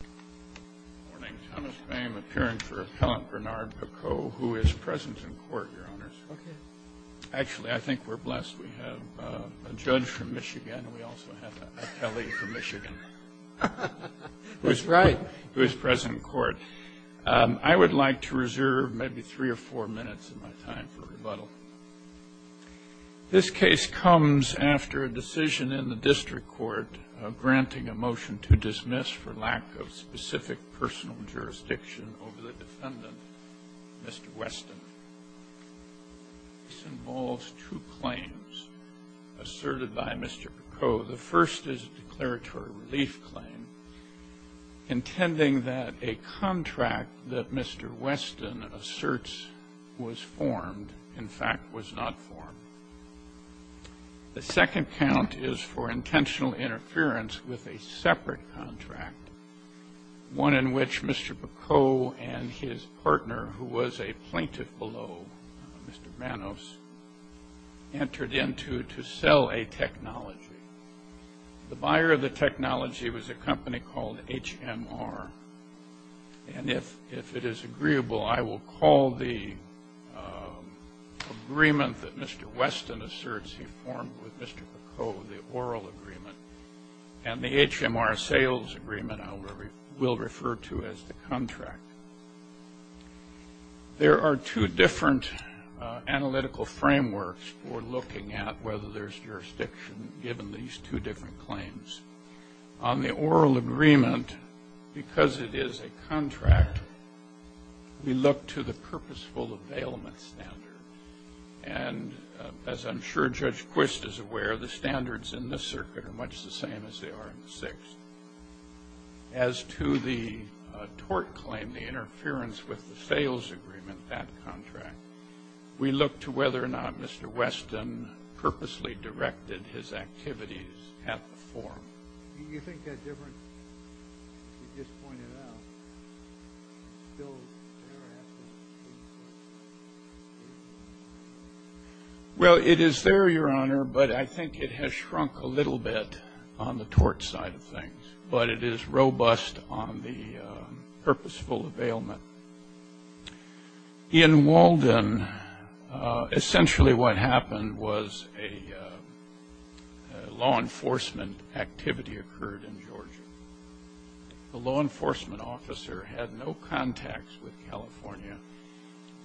Good morning. Thomas Boehm appearing for Appellant Bernard Picot, who is present in court, Your Honors. Actually, I think we're blessed. We have a judge from Michigan, and we also have an attellee from Michigan, who is present in court. I would like to reserve maybe three or four minutes of my time for rebuttal. This case comes after a decision in the district court granting a motion to dismiss for lack of specific personal jurisdiction over the defendant, Mr. Weston. This involves two claims asserted by Mr. Picot. The first is a declaratory relief claim intending that a contract that Mr. Weston asserts was formed, in fact was not formed. The second count is for intentional interference with a separate contract, one in which Mr. Picot and his partner, who was a plaintiff below Mr. Manos, entered into to sell a technology. The buyer of the technology was a company called HMR. And if it is agreeable, I will call the agreement that Mr. Weston asserts he formed with Mr. Picot, the oral agreement, and the HMR sales agreement I will refer to as the contract. There are two different analytical frameworks for looking at whether there's jurisdiction given these two different claims. On the oral agreement, because it is a contract, we look to the purposeful availment standard. And as I'm sure Judge Quist is aware, the standards in this circuit are much the same as they are in the sixth. As to the tort claim, the interference with the sales agreement, that contract, we look to whether or not Mr. Weston purposely directed his activities at the forum. Do you think that difference you just pointed out is still there? Well, it is there, Your Honor, but I think it has shrunk a little bit on the tort side of things. But it is robust on the purposeful availment. In Walden, essentially what happened was a law enforcement activity occurred in Georgia. The law enforcement officer had no contacts with California,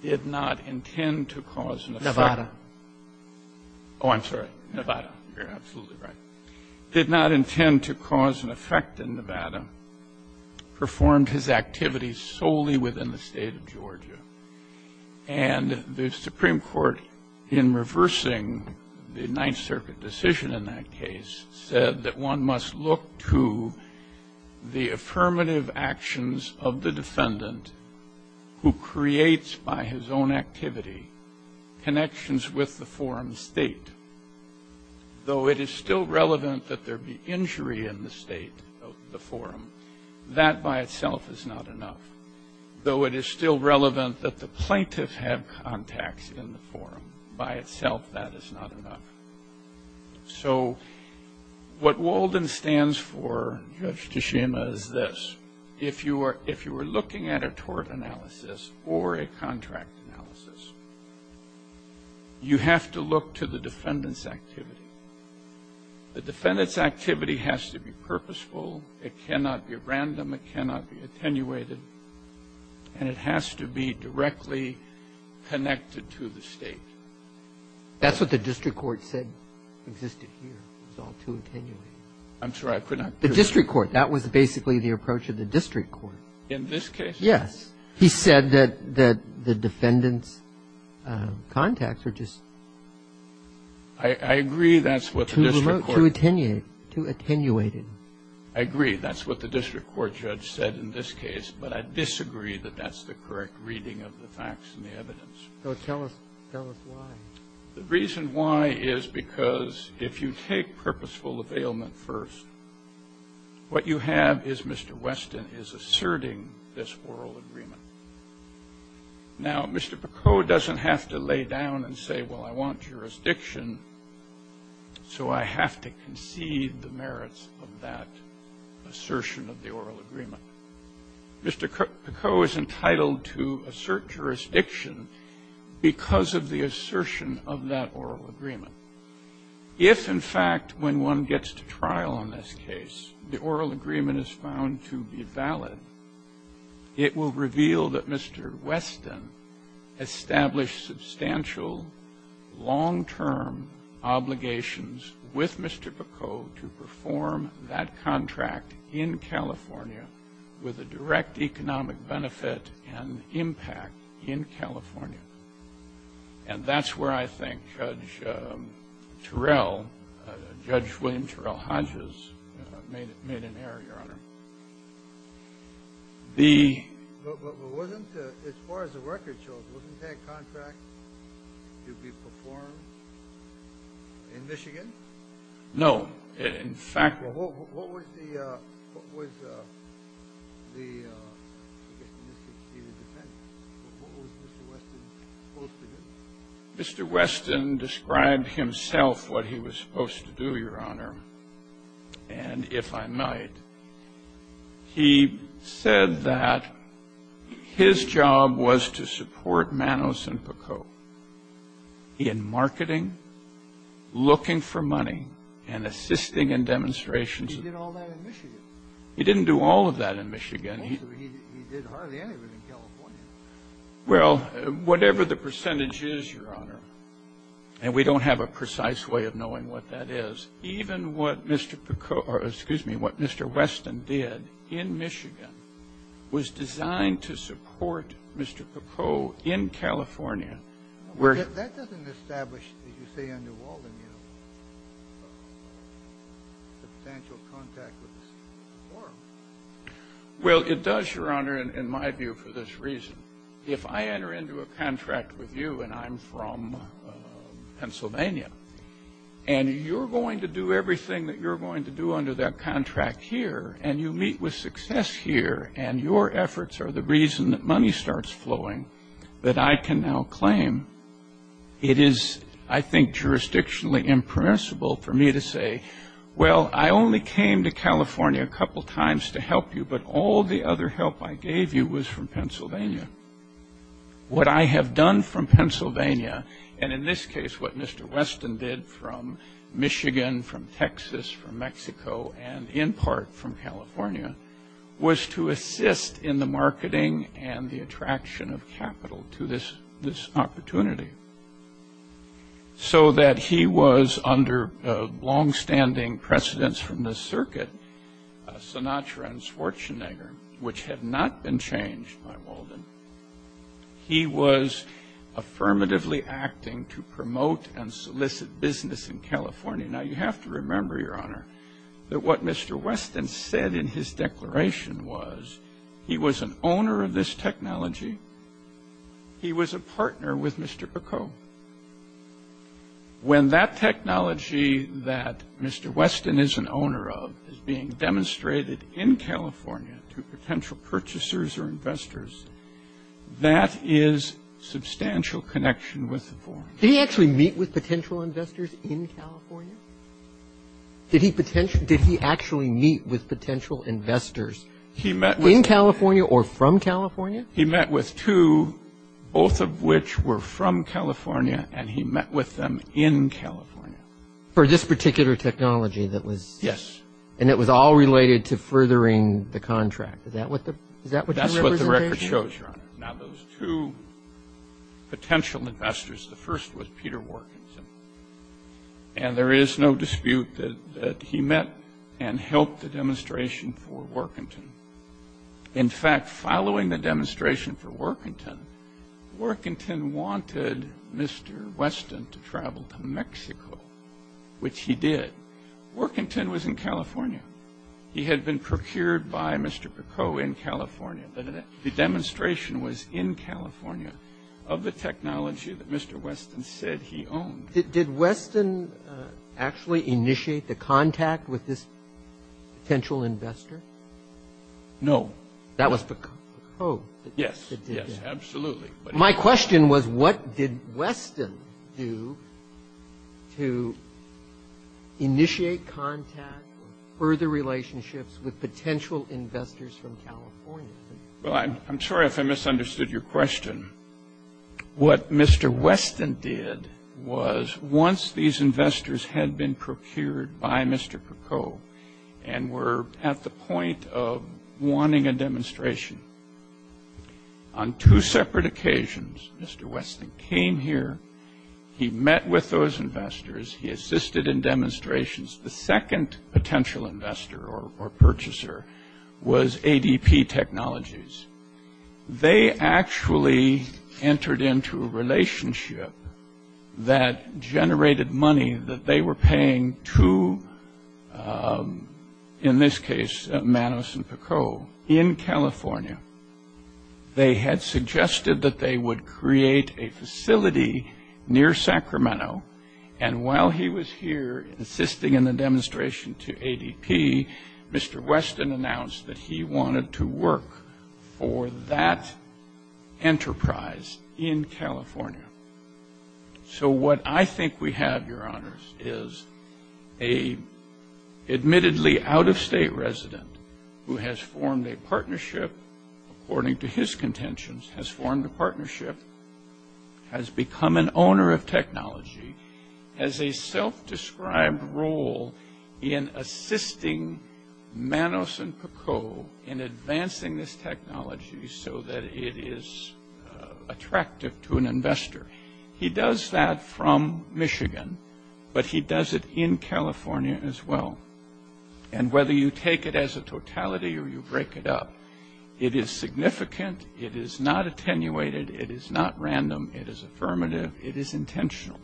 did not intend to cause an effect. Nevada. Oh, I'm sorry. Nevada. You're absolutely right. Did not intend to cause an effect in Nevada. Performed his activities solely within the State of Georgia. And the Supreme Court, in reversing the Ninth Circuit decision in that case, said that one must look to the affirmative actions of the defendant who creates, by his own activity, connections with the forum state. Though it is still relevant that there be injury in the state of the forum, that by itself is not enough. Though it is still relevant that the plaintiff have contacts in the forum, by itself that is not enough. So what Walden stands for, Judge Tashima, is this. If you were looking at a tort analysis or a contract analysis, you have to look to the defendant's activity. The defendant's activity has to be purposeful. It cannot be random. It cannot be attenuated. And it has to be directly connected to the State. That's what the district court said existed here. It was all too attenuated. I'm sorry. I could not hear you. The district court. That was basically the approach of the district court. In this case? Yes. He said that the defendant's contacts are just. I agree that's what the district court. Too remote. Too attenuated. I agree. That's what the district court judge said in this case. But I disagree that that's the correct reading of the facts and the evidence. Tell us why. The reason why is because if you take purposeful availment first, what you have is Mr. Weston is asserting this oral agreement. Now, Mr. Picot doesn't have to lay down and say, well, I want jurisdiction, so I have to concede the merits of that assertion of the oral agreement. Mr. Picot is entitled to assert jurisdiction because of the assertion of that oral agreement. If, in fact, when one gets to trial on this case, the oral agreement is found to be valid, it will reveal that Mr. Weston established substantial long-term obligations with Mr. Picot to perform that contract in California with a direct economic benefit and impact in California. And that's where I think Judge Turell, Judge William Turell Hodges, made an error, Your Honor. But wasn't, as far as the record shows, wasn't that contract to be performed in Michigan? No. In fact ‑‑ Mr. Weston described himself what he was supposed to do, Your Honor. And if I might, he said that his job was to support Manos and Picot in marketing, looking for money, and assisting in demonstrations. He didn't do all of that in Michigan. Well, whatever the percentage is, Your Honor, and we don't have a precise way of knowing what that is, even what Mr. Picot ‑‑ or, excuse me, what Mr. Weston did in Michigan was designed to support Mr. Picot in California. That doesn't establish, as you say, under Walden, you know, substantial contact with this forum. Well, it does, Your Honor, in my view, for this reason. If I enter into a contract with you and I'm from Pennsylvania, and you're going to do what you claim, it is, I think, jurisdictionally impermissible for me to say, well, I only came to California a couple times to help you, but all the other help I gave you was from Pennsylvania. What I have done from Pennsylvania, and in this case what Mr. Weston did from Michigan, from Texas, from Mexico, and in part from California, was to assist in the marketing and the attraction of capital to this opportunity, so that he was under longstanding precedence from the circuit, Sinatra and Schwarzenegger, which had not been changed by Walden. He was affirmatively acting to promote and solicit business in California. Now, you have to remember, Your Honor, that what Mr. Weston said in his declaration was he was an owner of this technology. He was a partner with Mr. Bicot. When that technology that Mr. Weston is an owner of is being demonstrated in California to potential purchasers or investors, that is substantial connection with the forum. Robertson did he actually meet with potential investors in California? Did he actually meet with potential investors? In California or from California? He met with two, both of which were from California, and he met with them in California. For this particular technology that was? Yes. And it was all related to furthering the contract. Is that what you're representing? That's what the record shows, Your Honor. Now, those two potential investors, the first was Peter Workinson, and there is no dispute that he met and helped the demonstration for Workinson. In fact, following the demonstration for Workinson, Workinson wanted Mr. Weston to travel to Mexico, which he did. Workinson was in California. He had been procured by Mr. Bicot in California. The demonstration was in California of the technology that Mr. Weston said he owned. Did Weston actually initiate the contact with this potential investor? No. That was Bicot. Yes. Yes, absolutely. My question was what did Weston do to initiate contact or further relationships with potential investors from California? Well, I'm sorry if I misunderstood your question. What Mr. Weston did was once these investors had been procured by Mr. Bicot and were at the point of wanting a demonstration, on two separate occasions, Mr. Weston came here, he met with those investors, he assisted in demonstrations. The second potential investor or purchaser was ADP Technologies. They actually entered into a relationship that generated money that they were paying to, in this case, Manos and Bicot in California. They had suggested that they would create a facility near Sacramento, and while he was here assisting in the demonstration to ADP, Mr. Weston announced that he wanted to work for that enterprise in California. So what I think we have, Your Honors, is an admittedly out-of-state resident who has formed a partnership, according to his contentions, has formed a partnership, has become an owner of technology, has a self-described role in assisting Manos and Bicot in advancing this technology so that it is attractive to an investor. He does that from Michigan, but he does it in California as well. And whether you take it as a totality or you break it up, it is significant, it is not attenuated, it is not random, it is affirmative, it is intentional,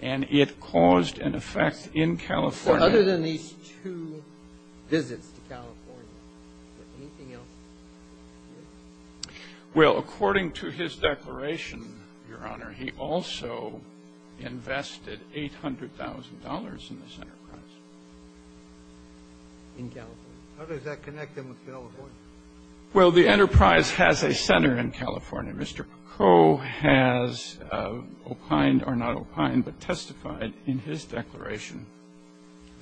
and it caused an effect in California. So other than these two visits to California, is there anything else? Well, according to his declaration, Your Honor, he also invested $800,000 in this enterprise in California. How does that connect him with California? Well, the enterprise has a center in California. Mr. Bicot has opined or not opined but testified in his declaration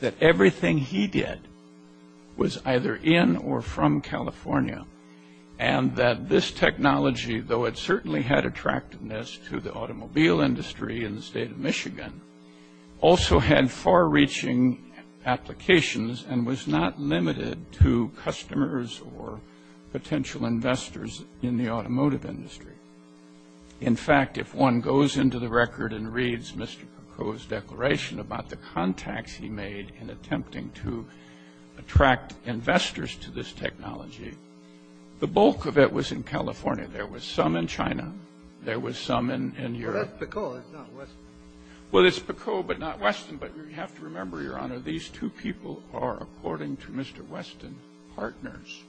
that everything he did was either in or from California and that this technology, though it certainly had attractiveness to the automobile industry in the state of Michigan, also had far-reaching applications and was not limited to customers or potential investors in the automotive industry. In fact, if one goes into the record and reads Mr. Bicot's declaration about the contacts he made in attempting to attract investors to this technology, the bulk of it was in California. There was some in China. There was some in Europe. Well, that's Bicot. It's not Weston. Well, it's Bicot but not Weston, but you have to remember, Your Honor, these two people are, according to Mr. Weston, partners.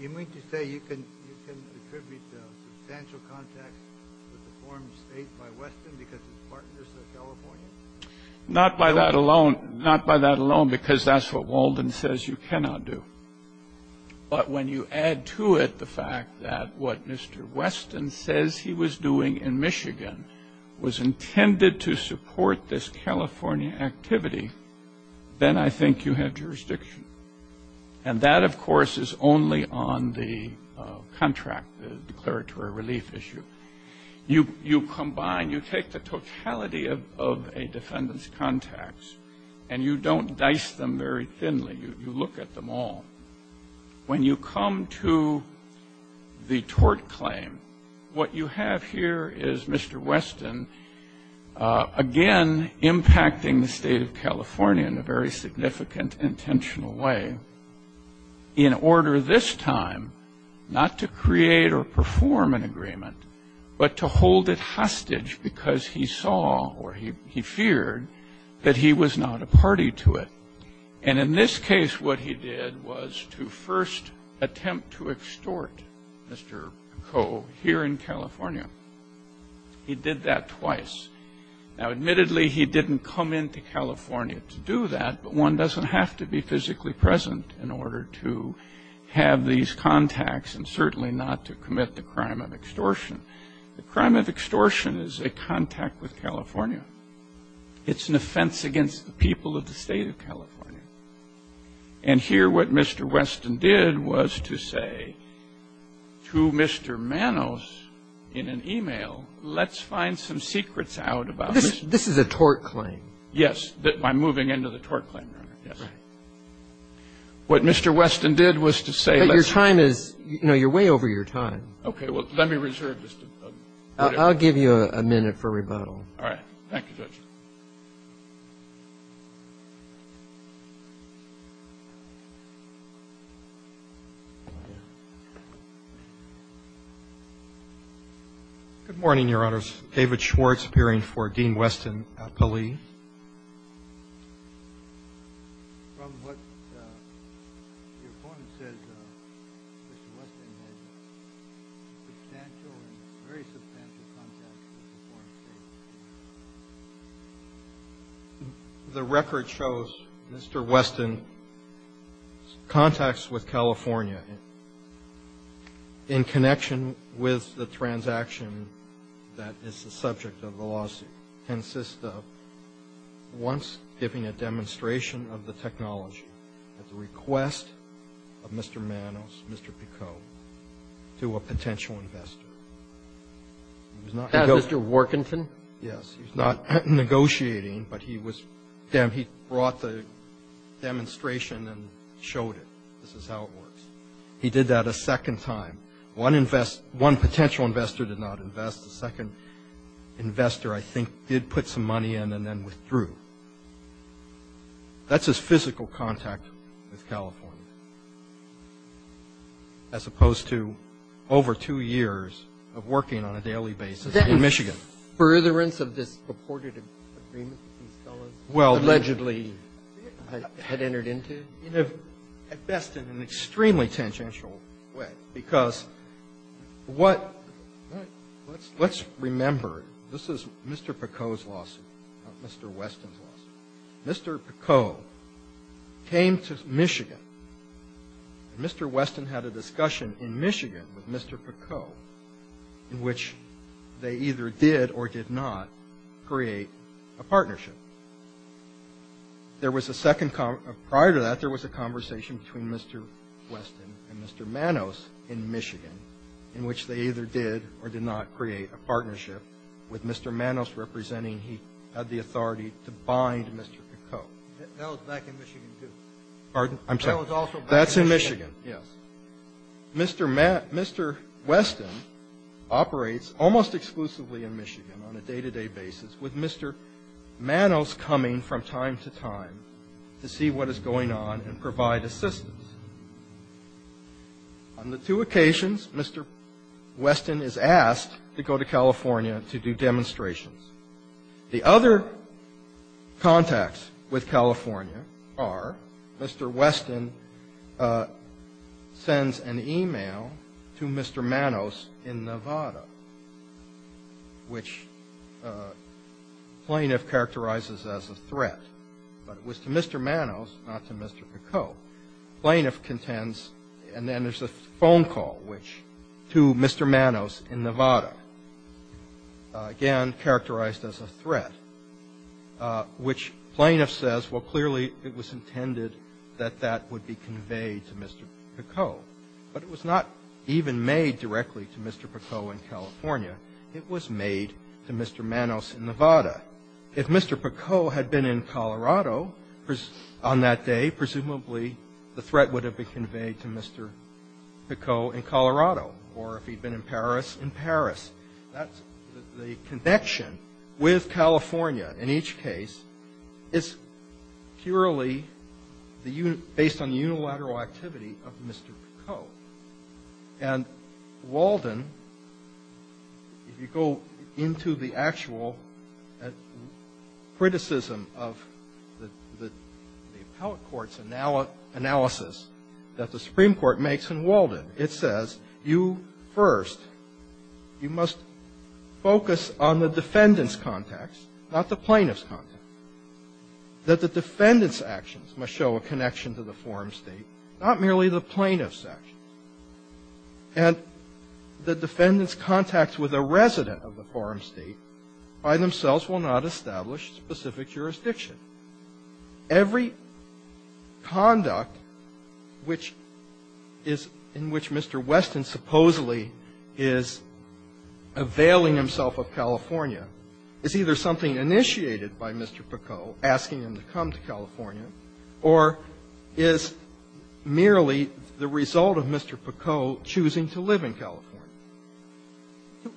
You mean to say you can attribute the substantial contacts with the foreign states by Weston because he's partners with California? Not by that alone because that's what Walden says you cannot do. But when you add to it the fact that what Mr. Weston says he was doing in Michigan was intended to support this California activity, then I think you have jurisdiction. And that, of course, is only on the contract, the declaratory relief issue. You combine, you take the totality of a defendant's contacts and you don't dice them very thinly, you look at them all. When you come to the tort claim, what you have here is Mr. Weston, again, impacting the state of California in a very significant intentional way in order this time not to create or perform an agreement but to hold it hostage because he saw or he feared that he was not a party to it. And in this case, what he did was to first attempt to extort Mr. Coe here in California. He did that twice. Now, admittedly, he didn't come into California to do that, but one doesn't have to be physically present in order to have these contacts and certainly not to commit the crime of extortion. The crime of extortion is a contact with California. It's an offense against the people of the State of California. And here what Mr. Weston did was to say to Mr. Manos in an e-mail, let's find some secrets out about this. This is a tort claim. Yes. I'm moving into the tort claim, Your Honor. What Mr. Weston did was to say let's find some secrets out about this. But your time is you know, you're way over your time. Okay. Well, let me reserve this. I'll give you a minute for rebuttal. All right. Thank you, Judge. Good morning, Your Honors. David Schwartz appearing for Dean Weston-Pelley. The record shows Mr. Weston's contacts with California in connection with the transaction that is the subject of the lawsuit. And here what Mr. Weston did in this case is he asked for the defense and the prosecution to come to, to meet at the John Maloney Koontz Manifesto Gary Pposyti Market. In fact, I believe on this particular case, he did put some money in and then withdrew. That's his physical contact with California, as opposed to over two years of working on a daily basis in Michigan. Furtherance of this purported agreement that these felons allegedly had entered into? At best, in an extremely tangential way, because what – let's remember, this is Mr. Picot's lawsuit, not Mr. Weston's lawsuit. Mr. Picot came to Michigan. Mr. Weston had a discussion in Michigan with Mr. Picot in which they either did or did not create a partnership. There was a second – prior to that, there was a conversation between Mr. Weston and Mr. Manos in Michigan in which they either did or did not create a partnership with Mr. Manos representing he had the authority to bind Mr. Picot. That was back in Michigan, too. Pardon? I'm sorry. That was also back in Michigan. That's in Michigan. Yes. Mr. Weston operates almost exclusively in Michigan on a day-to-day basis with Mr. Manos coming from time to time to see what is going on and provide assistance. On the two occasions, Mr. Weston is asked to go to California to do demonstrations. The other contacts with California are Mr. Weston sends an e-mail to Mr. Manos in Nevada, which the plaintiff characterizes as a threat, but it was to Mr. Manos, not to Mr. Picot. Plaintiff contends, and then there's a phone call, which to Mr. Manos in Nevada, again characterized as a threat, which plaintiff says, well, clearly it was intended that that would be conveyed to Mr. Picot. But it was not even made directly to Mr. Picot in California. It was made to Mr. Manos in Nevada. If Mr. Picot had been in Colorado on that day, presumably the threat would have been conveyed to Mr. Picot in Colorado, or if he'd been in Paris, in Paris. That's the connection with California in each case. It's purely based on the unilateral activity of Mr. Picot. And Walden, if you go into the actual criticism of the appellate court's analysis that the Supreme Court makes in Walden, it says you first, you must focus on the defendants' contacts, not the plaintiffs' contacts, that the defendants' actions must show a connection to the forum State, not merely the plaintiffs' actions. And the defendants' contacts with a resident of the forum State by themselves will not establish specific jurisdiction. Every conduct which is in which Mr. Weston supposedly is availing himself of California is either something initiated by Mr. Picot asking him to come to California or is merely the result of Mr. Picot choosing to live in California.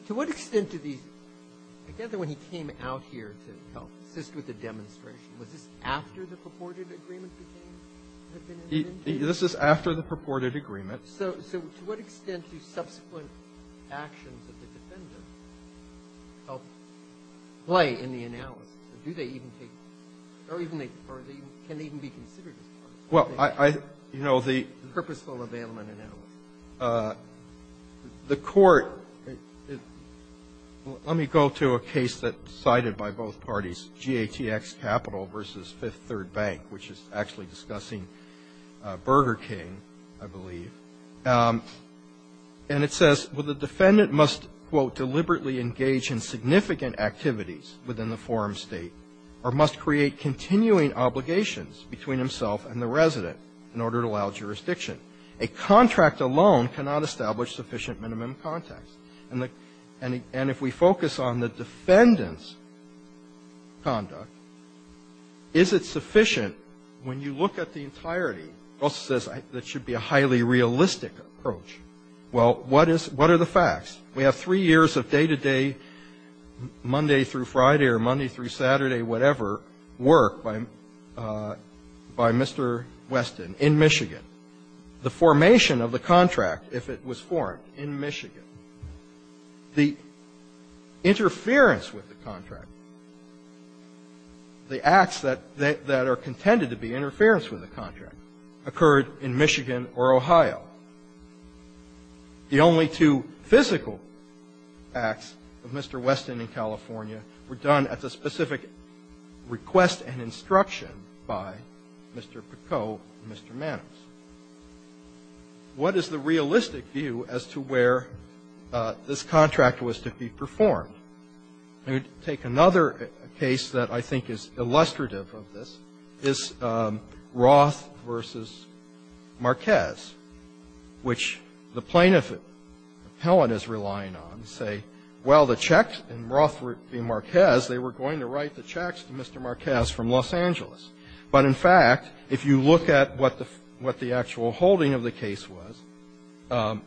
To what extent do these – I gather when he came out here to help assist with the demonstration, was this after the purported agreement became evident? This is after the purported agreement. So to what extent do subsequent actions of the defendants help play in the analysis? Do they even take – or can they even be considered as part of the purposeful availment analysis? The court – let me go to a case that's cited by both parties, GATX Capital v. Fifth Third Bank, which is actually discussing Burger King, I believe. And it says, well, the defendant must, quote, deliberately engage in significant activities within the forum State, or must create continuing obligations between himself and the resident in order to allow jurisdiction. A contract alone cannot establish sufficient minimum context. And if we focus on the defendant's conduct, is it sufficient when you look at the entirety? It also says that should be a highly realistic approach. Well, what is – what are the facts? We have three years of day-to-day, Monday through Friday or Monday through Saturday, whatever, work by Mr. Weston in Michigan. The formation of the contract, if it was formed in Michigan, the interference with the contract, the acts that are contended to be interference with the contract occurred in Michigan or Ohio. The only two physical acts of Mr. Weston in California were done at the specific request and instruction by Mr. Picot and Mr. Manos. What is the realistic view as to where this contract was to be performed? I would take another case that I think is illustrative of this, is Roth v. Marquez, which the plaintiff appellant is relying on to say, well, the checks in Roth v. Marquez, they were going to write the checks to Mr. Marquez from Los Angeles. But, in fact, if you look at what the actual holding of the case was,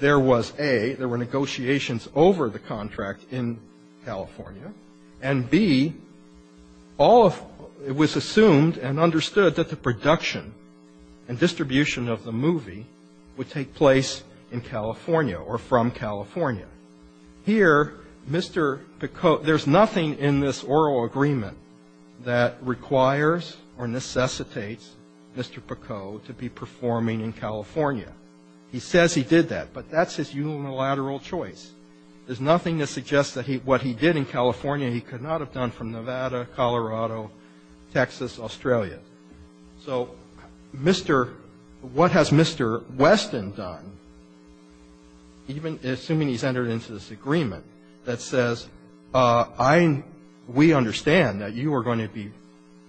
there was A, there were negotiations over the contract in California, and B, all of it was assumed and understood that the production and distribution of the movie would take place in California or from California. Here, Mr. Picot, there's nothing in this oral agreement that requires or necessitates Mr. Picot to be performing in California. He says he did that, but that's his unilateral choice. There's nothing that suggests that what he did in California he could not have done from Nevada, Colorado, Texas, Australia. So Mr. What has Mr. Weston done, even assuming he's entered into this agreement that says, I, we understand that you are going to be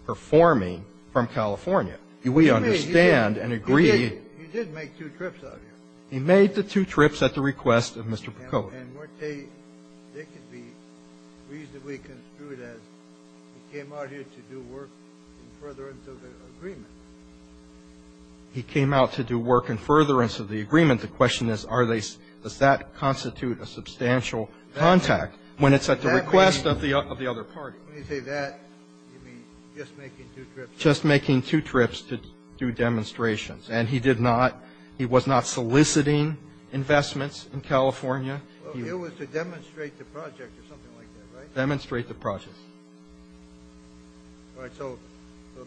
performing from California. We understand and agree. He did make two trips out here. He made the two trips at the request of Mr. Picot. And they could be reasonably construed as he came out here to do work in furtherance of the agreement. He came out to do work in furtherance of the agreement. The question is, does that constitute a substantial contact when it's at the request of the other party? When you say that, you mean just making two trips. Just making two trips to do demonstrations. And he did not, he was not soliciting investments in California. He was to demonstrate the project or something like that, right? Demonstrate the project. All right. So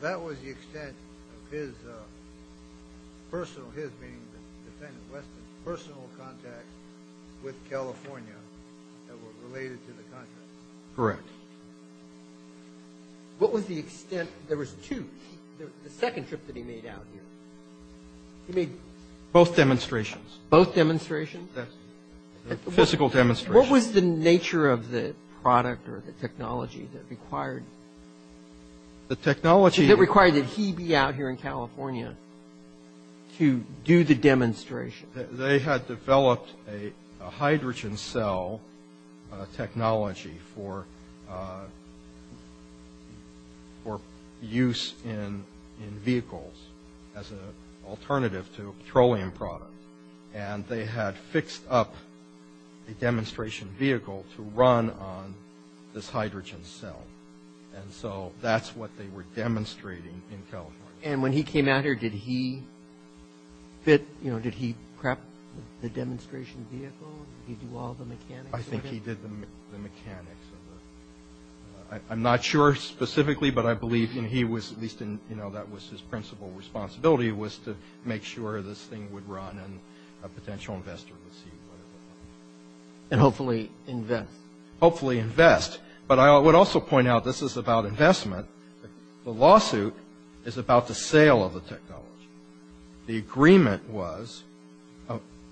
that was the extent of his personal, his being the defendant, Weston's personal contact with California that were related to the contract. Correct. What was the extent, there was two, the second trip that he made out here. He made both demonstrations. Both demonstrations? Physical demonstrations. What was the nature of the product or the technology that required? The technology. That required that he be out here in California to do the demonstration. They had developed a hydrogen cell technology for use in vehicles as an alternative to a petroleum product. And they had fixed up a demonstration vehicle to run on this hydrogen cell. And so that's what they were demonstrating in California. And when he came out here, did he fit, you know, did he prep the demonstration vehicle? Did he do all the mechanics of it? I think he did the mechanics of it. I'm not sure specifically, but I believe he was at least, you know, that was his principal responsibility was to make sure this thing would run and a potential investor would see what it would look like. And hopefully invest. Hopefully invest. But I would also point out this is about investment. The lawsuit is about the sale of the technology. The agreement was,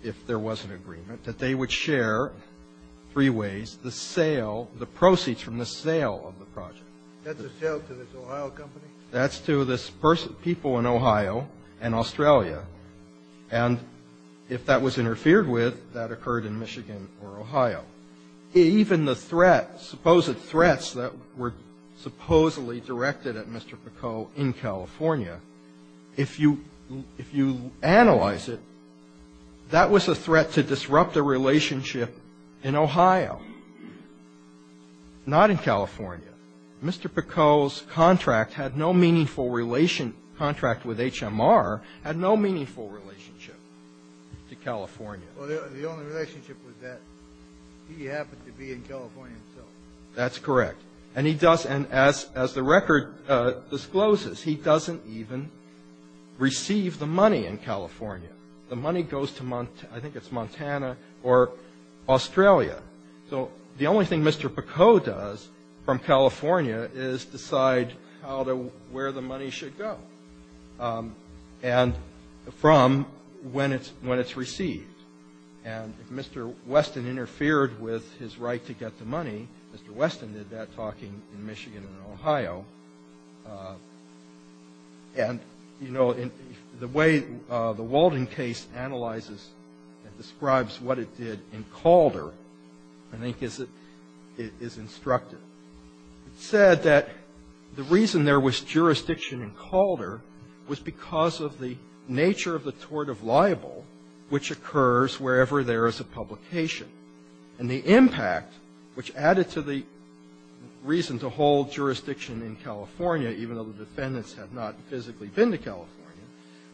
if there was an agreement, that they would share three ways the sale, the proceeds from the sale of the project. That's a sale to this Ohio company? That's to this person, people in Ohio and Australia. And if that was interfered with, that occurred in Michigan or Ohio. Even the threat, supposed threats that were supposedly directed at Mr. Picot in California, if you analyze it, that was a threat to disrupt a relationship in Ohio, not in California. Mr. Picot's contract had no meaningful relation, contract with HMR, had no meaningful relationship to California. Well, the only relationship was that he happened to be in California himself. That's correct. And he doesn't, as the record discloses, he doesn't even receive the money in California. The money goes to, I think it's Montana or Australia. So the only thing Mr. Picot does from California is decide how to, where the money should go. And from when it's received. And if Mr. Weston interfered with his right to get the money, Mr. Weston did that talking in Michigan and Ohio. And, you know, the way the Walden case analyzes and describes what it did in Calder, I think is instructive. It said that the reason there was jurisdiction in Calder was because of the nature of the tort of libel, which occurs wherever there is a publication. And the impact, which added to the reason to hold jurisdiction in California, even though the defendants had not physically been to California,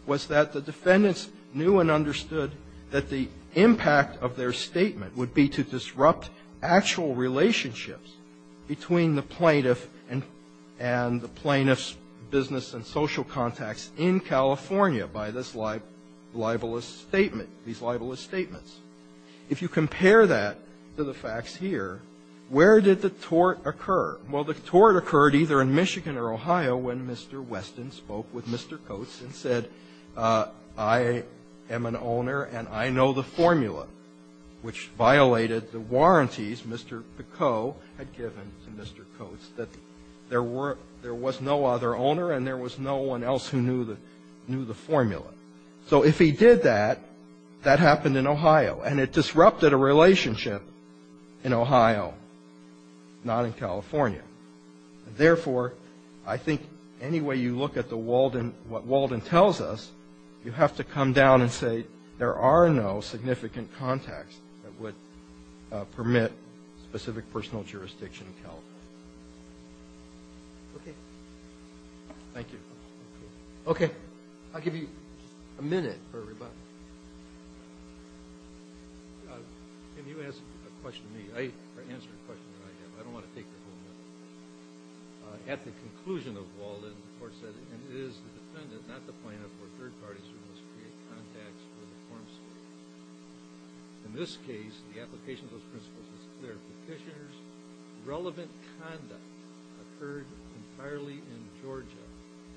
was that the defendants knew and understood that the impact of their statement would be to disrupt actual relationships between the plaintiff and the plaintiff's business and social contacts in California by this libelous statement, these libelous statements. If you compare that to the facts here, where did the tort occur? Well, the tort occurred either in Michigan or Ohio when Mr. Weston spoke with Mr. Coates and said, I am an owner and I know the formula, which violated the warranties Mr. Picot had given to Mr. Coates, that there was no other owner and there was no one else who knew the formula. So if he did that, that happened in Ohio. And it disrupted a relationship in Ohio, not in California. Therefore, I think any way you look at the Walden, what Walden tells us, you have to come down and say there are no significant contacts that would permit specific personal jurisdiction in California. Okay. Thank you. Okay. I'll give you a minute for rebuttal. Can you ask a question of me? Answer a question that I have. I don't want to take the whole minute. At the conclusion of Walden, the court said, and it is the defendant, not the plaintiff, or third parties who must create contacts for the form state. In this case, the application of those principles is clear. Petitioners' relevant conduct occurred entirely in Georgia.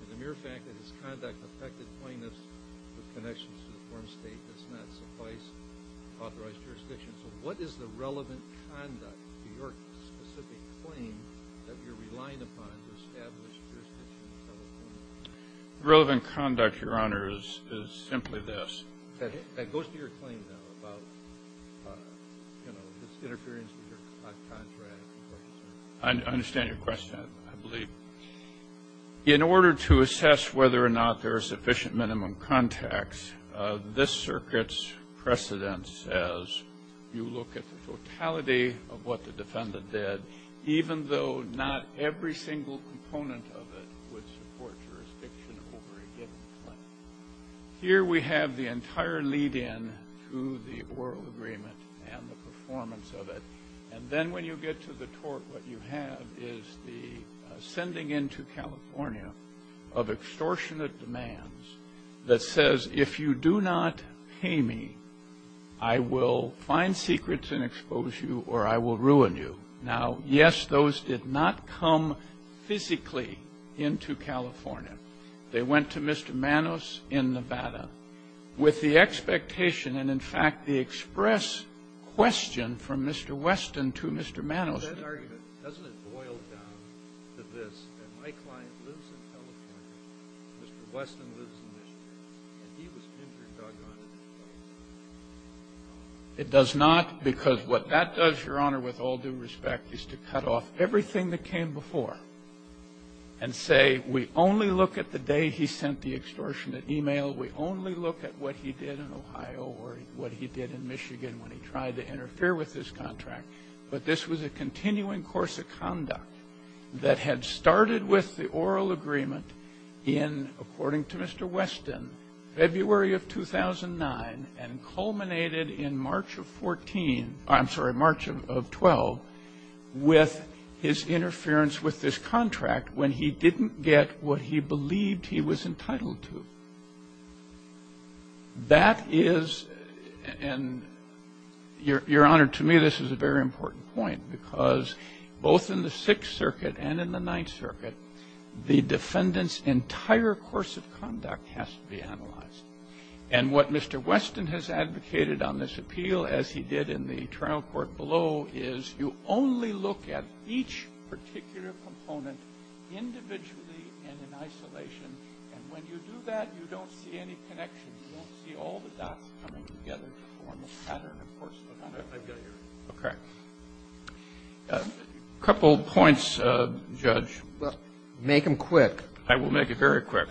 And the mere fact that his conduct affected plaintiffs with connections to the form state does not suffice to authorize jurisdiction. So what is the relevant conduct to your specific claim that you're relying upon to establish jurisdiction in California? The relevant conduct, Your Honor, is simply this. That goes to your claim, though, about, you know, this interference with your contract. I understand your question, I believe. In order to assess whether or not there are sufficient minimum contacts, this circuit's precedent says you look at the totality of what the defendant did, even though not every single component of it would support jurisdiction over a given claim. Here we have the entire lead-in to the oral agreement and the performance of it. And then when you get to the tort, what you have is the sending into California of extortionate demands that says, if you do not pay me, I will find secrets and expose you or I will ruin you. Now, yes, those did not come physically into California. They went to Mr. Manos in Nevada with the expectation and, in fact, the express question from Mr. Weston to Mr. Manos. It does not, because what that does, Your Honor, with all due respect, is to cut off everything that came before and say, we only look at the day he sent the extortionate e-mail, we only look at what he did in Ohio or what he did in Michigan when he tried to interfere with his contract. But this was a continuing course of conduct that had started with the oral agreement in, according to Mr. Weston, February of 2009 and culminated in March of 14 or, I'm sorry, March of 12 with his interference with this contract when he didn't get what he believed he was entitled to. That is and, Your Honor, to me, this is a very important point, because both in the Sixth Circuit and in the Ninth Circuit, the defendant's entire course of conduct has to be analyzed. And what Mr. Weston has advocated on this appeal, as he did in the trial court below, is you only look at each particular component individually and in isolation. And when you do that, you don't see any connection. You don't see all the dots coming together to form a pattern, a course of conduct I've got here. Roberts. Okay. A couple points, Judge. Well, make them quick. I will make it very quick.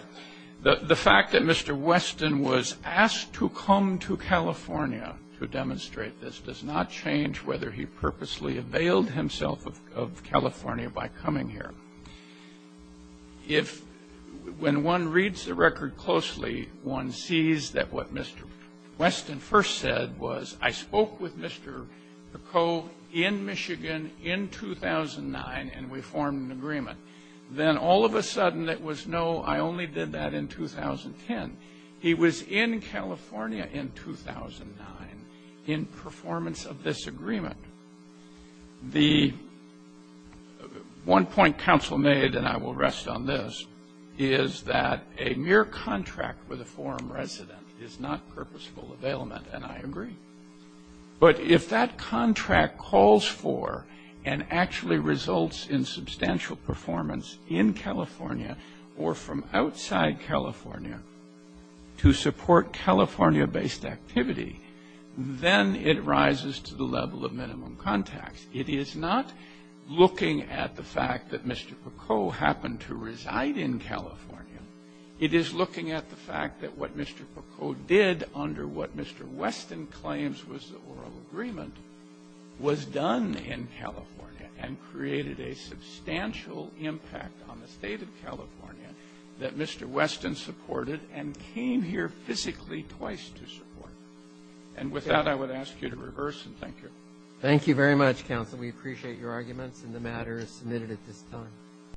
The fact that Mr. Weston was asked to come to California to demonstrate this does not change whether he purposely availed himself of California by coming here. If, when one reads the record closely, one sees that what Mr. Weston first said was, I spoke with Mr. Picot in Michigan in 2009, and we formed an agreement. Then all of a sudden, it was, no, I only did that in 2010. He was in California in 2009 in performance of this agreement. The one point counsel made, and I will rest on this, is that a mere contract with a forum resident is not purposeful availment, and I agree. But if that contract calls for and actually results in substantial performance in California or from outside California to support California-based activity, then it rises to the level of minimum contracts. It is not looking at the fact that Mr. Picot happened to reside in California. It is looking at the fact that what Mr. Picot did under what Mr. Weston claims was the oral agreement was done in California and created a substantial impact on the state of California that Mr. Weston supported and came here physically twice to support. And with that, I would ask you to reverse, and thank you. Thank you very much, counsel. We appreciate your arguments, and the matter is submitted at this time.